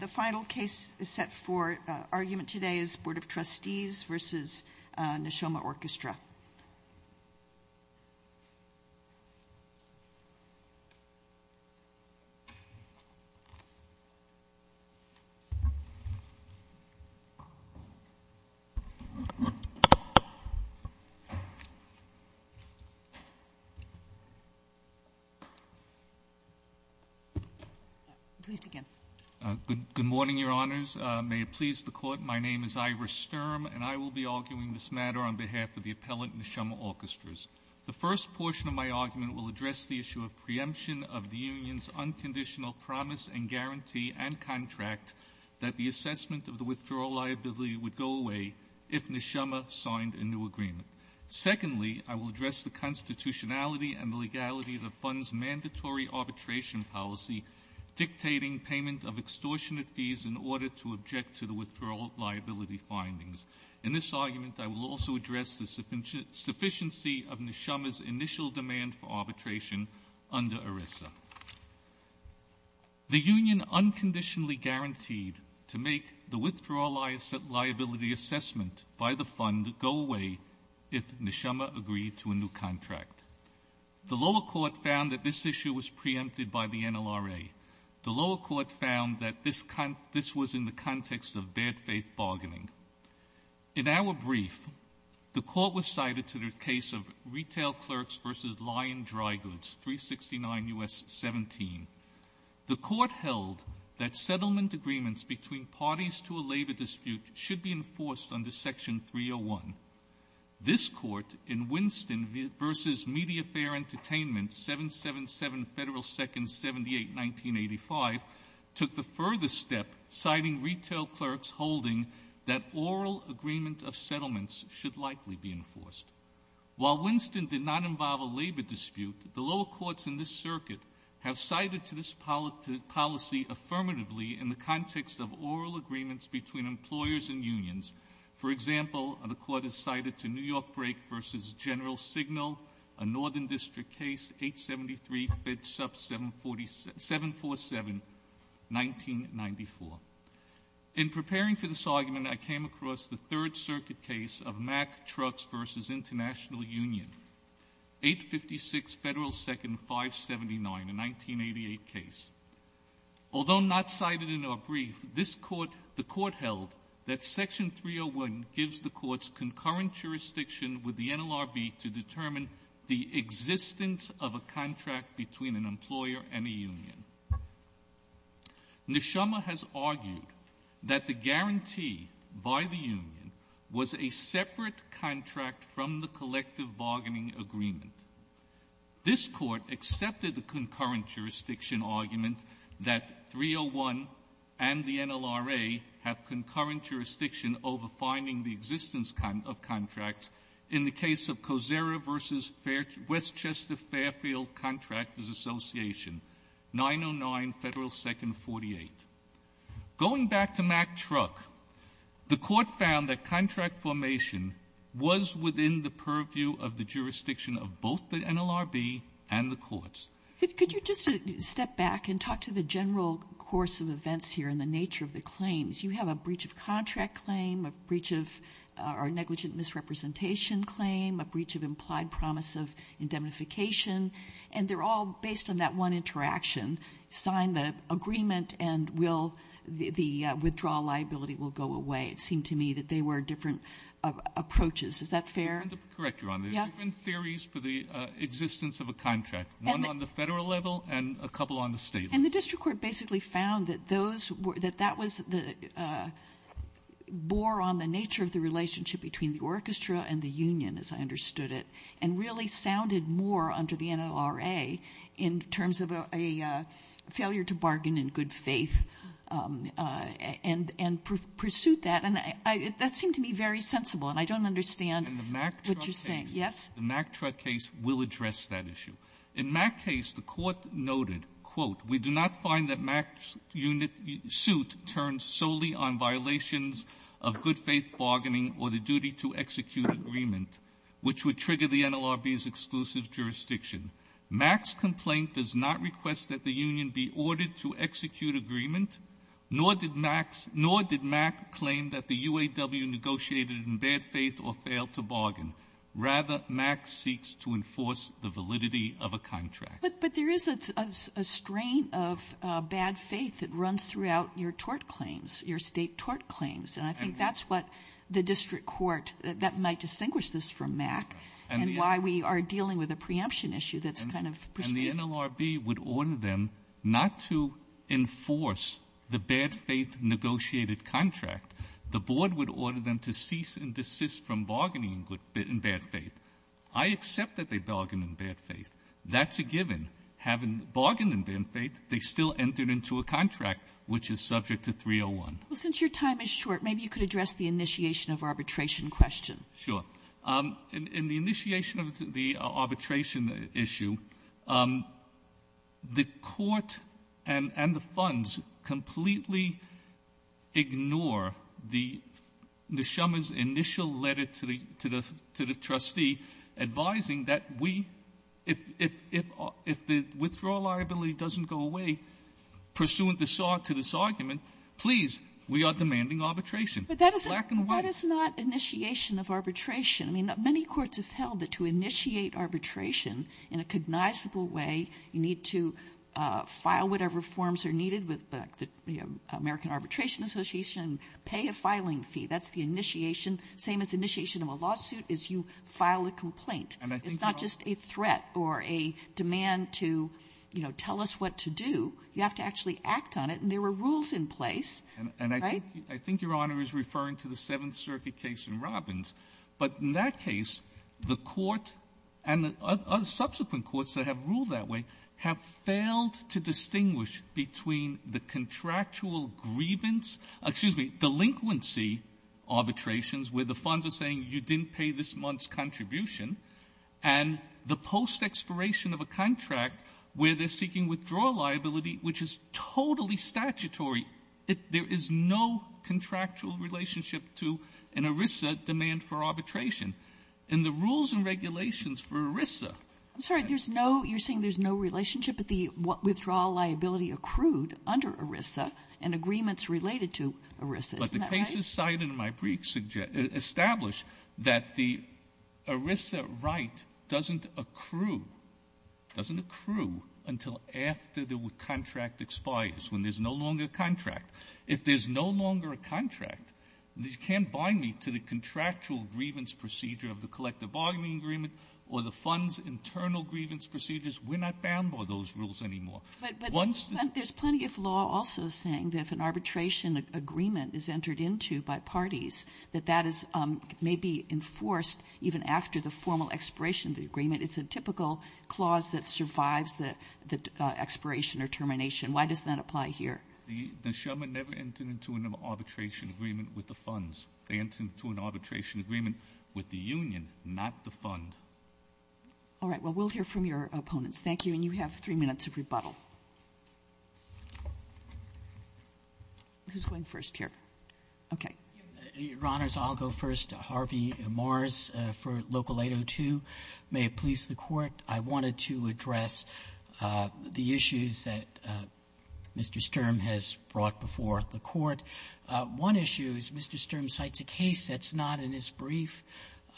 The final case is set for argument today is Board of Trustees versus Neshoma Orchestra. Good morning, your honors. May it please the court, my name is Ivor Sturm. And I will be arguing this matter on behalf of the appellant Neshoma Orchestras. The first portion of my argument will address the issue of preemption of the union's unconditional promise and guarantee and contract that the assessment of the withdrawal liability would go away if Neshoma signed a new agreement. Secondly, I will address the constitutionality and legality of the fund's mandatory arbitration policy dictating payment of extortionate fees in order to object to the withdrawal liability findings. In this argument, I will also address the sufficiency of Neshoma's initial demand for arbitration under ERISA. The union unconditionally guaranteed to make the withdrawal liability assessment by the fund go away if Neshoma agreed to a new contract. The lower court found that this issue was preempted by the NLRA. The lower court found that this was in the context of bad faith bargaining. In our brief, the court was cited to the case of Retail Clerks v. Lion Dry Goods, 369 U.S. 17. The court held that settlement agreements between parties to a labor dispute should be enforced under Section 301. This court, in Winston v. Mediafare Entertainment, 777 Federal 2nd, 78, 1985, took the further step citing Retail Clerks holding that oral agreement of settlements should likely be enforced. While Winston did not involve a labor dispute, the lower courts in this circuit have cited to this policy affirmatively in the context of oral agreements between employers and unions. For example, the court has cited to New York Brake v. General Signal, a Northern District case, 873 FedSup 747, 1994. In preparing for this argument, I came across the Third Circuit case of Mack Trucks v. International Union, 856 Federal 2nd, 579, a 1988 case. Although not cited in our brief, this court — the court held that Section 301 gives the courts concurrent jurisdiction with the NLRB to determine the existence of a contract between an employer and a union. Neshama has argued that the guarantee by the union was a separate contract from the collective bargaining agreement. This court accepted the concurrent jurisdiction argument that 301 and the NLRA have concurrent jurisdiction over finding the existence of contracts in the case of Kosera v. Westchester Fairfield Contractors Association, 909 Federal 2nd, 48. Going back to Mack Truck, the court found that contract formation was within the purview of the jurisdiction of both the NLRB and the courts. Could you just step back and talk to the general course of events here and the nature of the claims? You have a breach of contract claim, a breach of — or negligent misrepresentation claim, a breach of implied promise of indemnification, and they're all based on that one interaction. Sign the agreement and will — the withdrawal liability will go away. It seemed to me that they were different approaches. Is that fair? Correct, Your Honor. Yeah. There's different theories for the existence of a contract, one on the federal level and a couple on the state level. And the district court basically found that those — that that was the — bore on the nature of the relationship between the orchestra and the union, as I understood it, and really sounded more under the NLRA in terms of a failure to bargain in good faith and pursue that. And that seemed to me very sensible, and I don't understand — In the Mack truck case. — what you're saying. Yes? The Mack truck case will address that issue. In Mack's case, the Court noted, quote, we do not find that Mack's unit — suit turns solely on violations of good-faith bargaining or the duty to execute agreement, which would trigger the NLRB's exclusive jurisdiction. Mack's complaint does not request that the union be ordered to execute agreement, nor did Mack's — nor did Mack claim that the UAW negotiated in bad faith or failed to bargain. Rather, Mack seeks to enforce the validity of a contract. But there is a strain of bad faith that runs throughout your tort claims, your state tort claims. And I think that's what the district court — that might distinguish this from Mack and why we are dealing with a preemption issue that's kind of persuasive. The NLRB would order them not to enforce the bad-faith negotiated contract. The board would order them to cease and desist from bargaining in bad faith. I accept that they bargained in bad faith. That's a given. Having bargained in bad faith, they still entered into a contract which is subject to 301. Well, since your time is short, maybe you could address the initiation of arbitration question. Sure. In the initiation of the arbitration issue, the court and the funds completely ignore the — Ms. Schumer's initial letter to the — to the trustee advising that we — if the withdrawal liability doesn't go away pursuant to this argument, please, we are demanding arbitration. But that is not initiation of arbitration. I mean, many courts have held that to initiate arbitration in a cognizable way, you need to file whatever forms are needed with the American Arbitration Association, pay a filing fee. That's the initiation. Same as initiation of a lawsuit is you file a complaint. It's not just a threat or a demand to, you know, tell us what to do. You have to actually act on it. And there were rules in place, right? I think your Honor is referring to the Seventh Circuit case in Robbins. But in that case, the court and the subsequent courts that have ruled that way have failed to distinguish between the contractual grievance — excuse me, delinquency arbitrations where the funds are saying you didn't pay this month's contribution and the post-expiration of a contract where they're seeking withdrawal liability, which is totally statutory. There is no contractual relationship to an ERISA demand for arbitration. And the rules and regulations for ERISA — I'm sorry, there's no — you're saying there's no relationship, but the withdrawal liability accrued under ERISA and agreements related to ERISA. Isn't that right? But the cases cited in my briefs establish that the ERISA right doesn't accrue — doesn't accrue until after the contract expires, when there's no longer a contract If there's no longer a contract, you can't bind me to the contractual grievance procedure of the collective bargaining agreement or the funds' internal grievance procedures. We're not bound by those rules anymore. Once — But there's plenty of law also saying that if an arbitration agreement is entered into by parties, that that is — may be enforced even after the formal expiration of the agreement. It's a typical clause that survives the — the expiration or termination. Why does that apply here? The — the Sherman never entered into an arbitration agreement with the funds. They entered into an arbitration agreement with the union, not the fund. All right. Well, we'll hear from your opponents. Thank you. And you have three minutes of rebuttal. Who's going first here? Okay. Your Honors, I'll go first. Harvey Mars for Local 802. May it please the Court. I wanted to address the issues that Mr. Sturm has brought before the Court. One issue is Mr. Sturm cites a case that's not in his brief.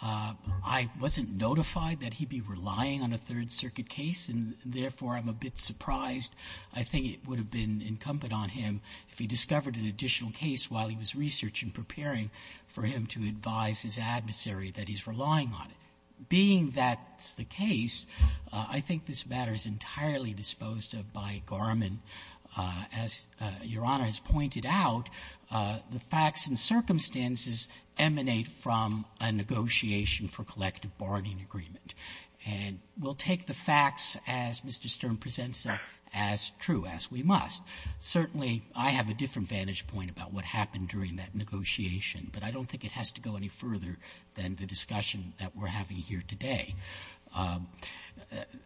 I wasn't notified that he'd be relying on a Third Circuit case, and therefore, I'm a bit surprised. I think it would have been incumbent on him if he discovered an additional case while he was researching, preparing for him to advise his adversary that he's relying on it. Being that's the case, I think this matter is entirely disposed of by Garmin. As Your Honor has pointed out, the facts and circumstances emanate from a negotiation for collective bargaining agreement. And we'll take the facts as Mr. Sturm presents them as true, as we must. Certainly, I have a different vantage point about what happened during that negotiation, but I don't think it has to go any further than the discussion that we're having here today.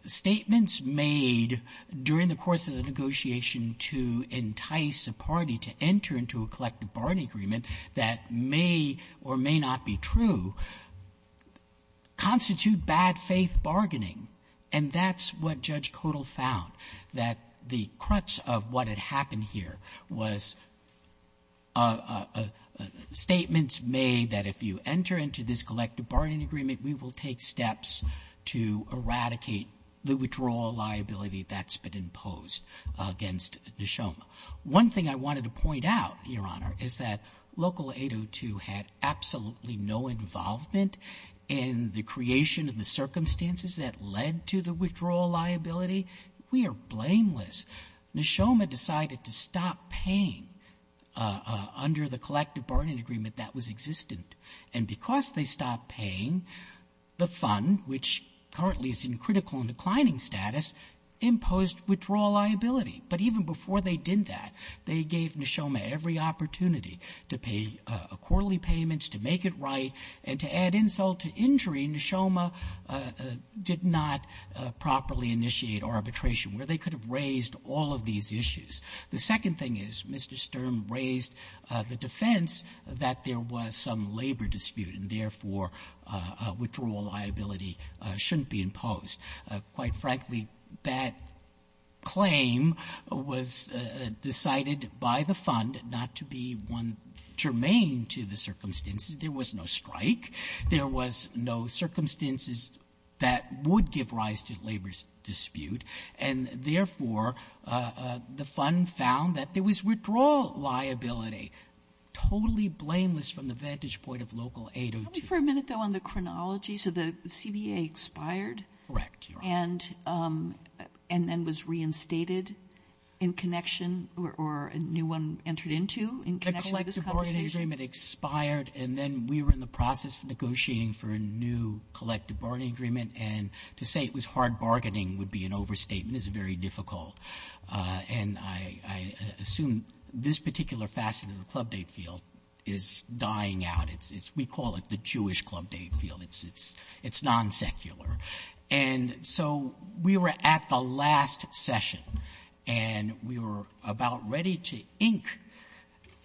Statements made during the course of the negotiation to entice a party to enter into a collective bargaining agreement that may or may not be true constitute bad-faith bargaining. And that's what Judge Codall found, that the crutch of what had happened here was statements made that if you enter into this collective bargaining agreement, we will take steps to eradicate the withdrawal liability that's been imposed against Neshoma. One thing I wanted to point out, Your Honor, is that Local 802 had absolutely no involvement in the creation of the circumstances that led to the withdrawal liability. We are blameless. Neshoma decided to stop paying under the collective bargaining agreement that was existent. And because they stopped paying, the fund, which currently is in critical and declining status, imposed withdrawal liability. But even before they did that, they gave Neshoma every opportunity to pay quarterly payments, to make it right, and to add insult to injury. Neshoma did not properly initiate arbitration where they could have raised all of these issues. The second thing is Mr. Sturm raised the defense that there was some labor dispute and, therefore, withdrawal liability shouldn't be imposed. Quite frankly, that claim was decided by the fund not to be one germane to the circumstances. There was no strike. There was no circumstances that would give rise to labor dispute. And, therefore, the fund found that there was withdrawal liability, totally blameless from the vantage point of Local 802. Can we for a minute, though, on the chronology? So the CBA expired? Correct, Your Honor. And then was reinstated in connection or a new one entered into in connection with this conversation? The collective bargaining agreement expired, and then we were in the process of negotiating for a new collective bargaining agreement. And to say it was hard bargaining would be an overstatement. It's very difficult. And I assume this particular facet of the club date field is dying out. We call it the Jewish club date field. It's non-secular. And so we were at the last session, and we were about ready to ink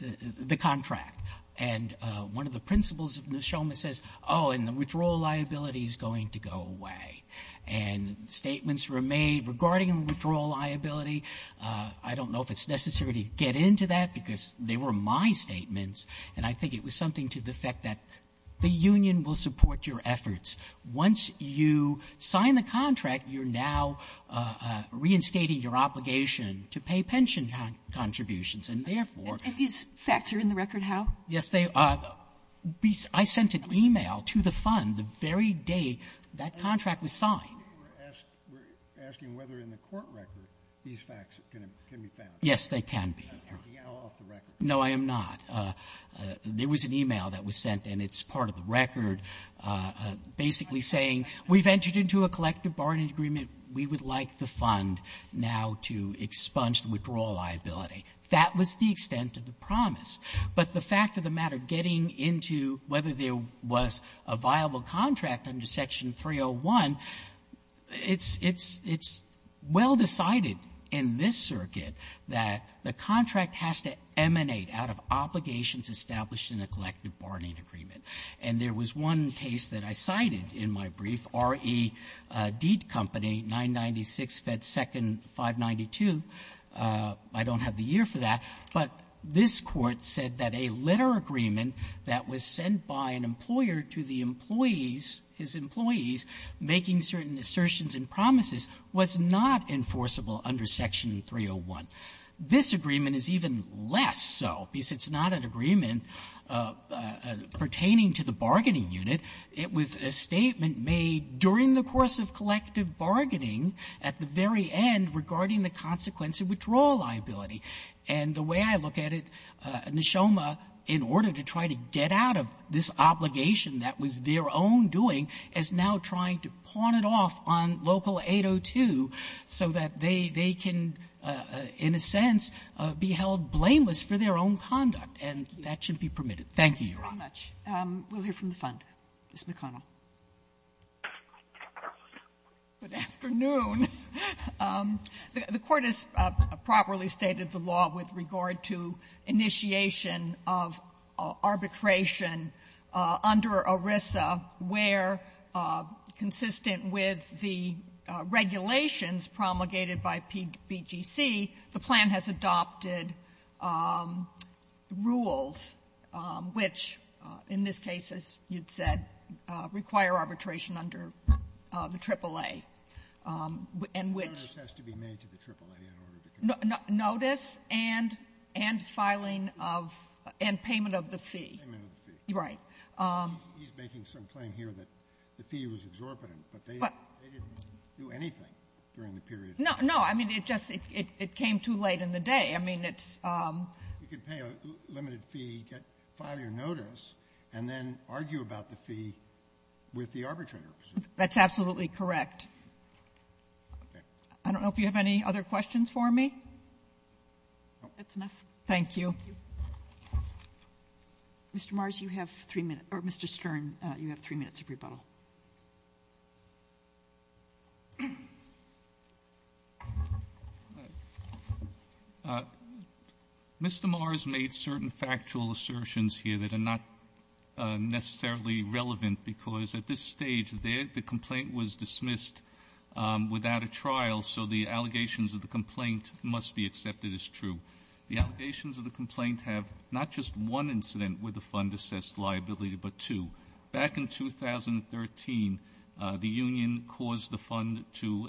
the contract. And one of the principals of Neshoma says, oh, and the withdrawal liability is going to go away. And statements were made regarding withdrawal liability. I don't know if it's necessary to get into that, because they were my statements, and I think it was something to the effect that the union will support your efforts. Once you sign the contract, you're now reinstating your obligation to pay pension contributions, and therefore — And these facts are in the record, how? Yes, they are. I sent an e-mail to the fund the very day that contract was signed. We're asking whether in the court record these facts can be found. Yes, they can be. That's the DL off the record. No, I am not. There was an e-mail that was sent, and it's part of the record. Basically saying, we've entered into a collective bargaining agreement. We would like the fund now to expunge the withdrawal liability. That was the extent of the promise. But the fact of the matter, getting into whether there was a viable contract under Section 301, it's — it's well decided in this circuit that the contract has to emanate out of obligations established in a collective This is one case that I cited in my brief, R.E. Deet Company, 996 Fed 2nd, 592. I don't have the year for that, but this Court said that a letter agreement that was sent by an employer to the employees, his employees, making certain assertions and promises, was not enforceable under Section 301. This agreement is even less so, because it's not an agreement pertaining to the bargaining unit. It was a statement made during the course of collective bargaining at the very end regarding the consequence of withdrawal liability. And the way I look at it, Neshoma, in order to try to get out of this obligation that was their own doing, is now trying to pawn it off on Local 802 so that they can, in a sense, be held blameless for their own conduct. And that should be permitted. Thank you, Your Honor. Kagan. Thank you very much. We'll hear from the Fund. Ms. McConnell. McConnell. Good afternoon. The Court has properly stated the law with regard to initiation of arbitration under ERISA where, consistent with the regulations promulgated by PBGC, the plan has adopted rules which, in this case, as you'd said, require arbitration under the AAA, and which ---- Kennedy. The notice has to be made to the AAA in order to convince them. McConnell. Notice and filing of the fee. Kennedy. And payment of the fee. Kennedy. Payment of the fee. McConnell. Right. Kennedy. He's making some claim here that the fee was exorbitant, but they didn't do anything during the period. No. No. I mean, it just ---- it came too late in the day. I mean, it's ---- You could pay a limited fee, get ---- file your notice, and then argue about the fee with the arbitrator. That's absolutely correct. I don't know if you have any other questions for me. That's enough. Thank you. Mr. Mars, you have three minutes or Mr. Stern, you have three minutes of rebuttal. Mr. Mars made certain factual assertions here that are not necessarily relevant because at this stage, the complaint was dismissed without a trial, so the allegations of the complaint must be accepted as true. The allegations of the complaint have not just one incident where the fund was withdrawn. In 2013, the union caused the fund to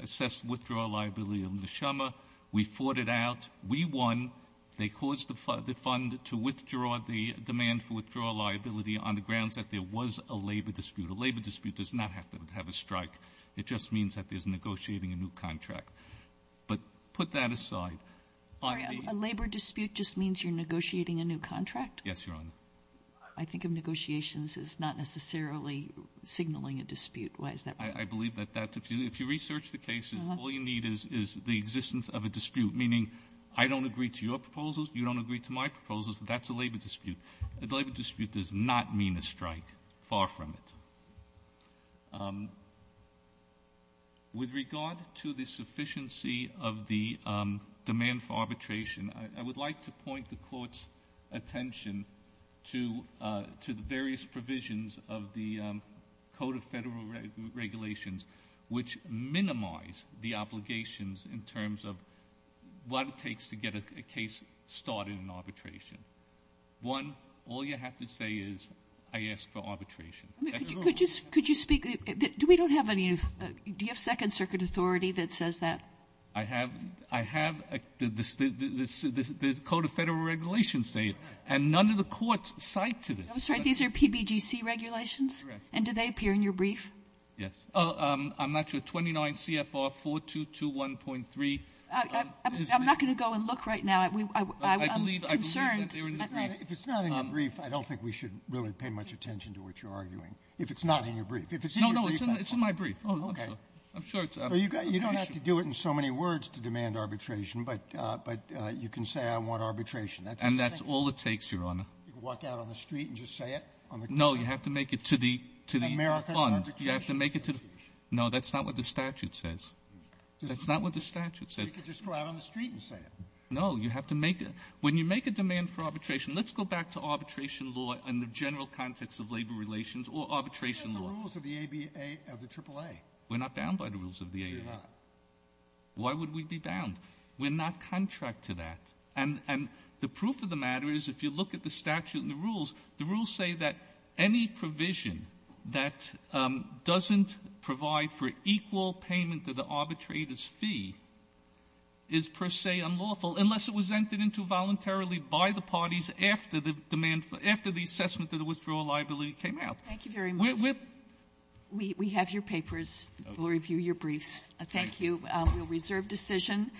assess withdrawal liability of Neshama. We fought it out. We won. They caused the fund to withdraw the demand for withdrawal liability on the grounds that there was a labor dispute. A labor dispute does not have to have a strike. It just means that there's negotiating a new contract. But put that aside. A labor dispute just means you're negotiating a new contract? Yes, Your Honor. I think of negotiations as not necessarily signaling a dispute. Why is that? I believe that if you research the cases, all you need is the existence of a dispute, meaning I don't agree to your proposals, you don't agree to my proposals. That's a labor dispute. A labor dispute does not mean a strike. Far from it. With regard to the sufficiency of the demand for arbitration, I would like to point the Court's attention to the various provisions of the Code of Federal Regulations, which minimize the obligations in terms of what it takes to get a case started in arbitration. One, all you have to say is, I ask for arbitration. Could you speak? Do we don't have any? Do you have Second Circuit authority that says that? I have the Code of Federal Regulations say it. And none of the courts cite to this. I'm sorry. These are PBGC regulations? Correct. And do they appear in your brief? Yes. I'm not sure. 29 CFR 4221.3 is the one. I'm not going to go and look right now. I'm concerned. If it's not in your brief, I don't think we should really pay much attention to what you're arguing. If it's not in your brief. If it's in your brief, that's fine. No, no. It's in my brief. Okay. I'm sure it's out of the question. You don't have to do it in so many words to demand arbitration, but you can say I want arbitration. And that's all it takes, Your Honor. You can walk out on the street and just say it? No. You have to make it to the fund. The American Arbitration Association. No. That's not what the statute says. That's not what the statute says. You can just go out on the street and say it. No. You have to make it. When you make a demand for arbitration, let's go back to arbitration law and the general context of labor relations or arbitration law. What about the rules of the AAA? We're not bound by the rules of the AAA. You're not. Why would we be bound? We're not contract to that. And the proof of the matter is if you look at the statute and the rules, the rules say that any provision that doesn't provide for equal payment to the arbitrator's fee is per se unlawful unless it was entered into voluntarily by the parties after the demand for the assessment of the withdrawal liability came out. Thank you very much. We're — We have your papers. We'll review your briefs. Thank you. We'll reserve decision.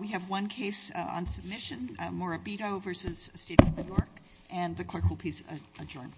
We have one case on submission, Morabito v. State of New York. And the clerk will please adjourn. MS. MORABITO V. STATE OF NEW YORK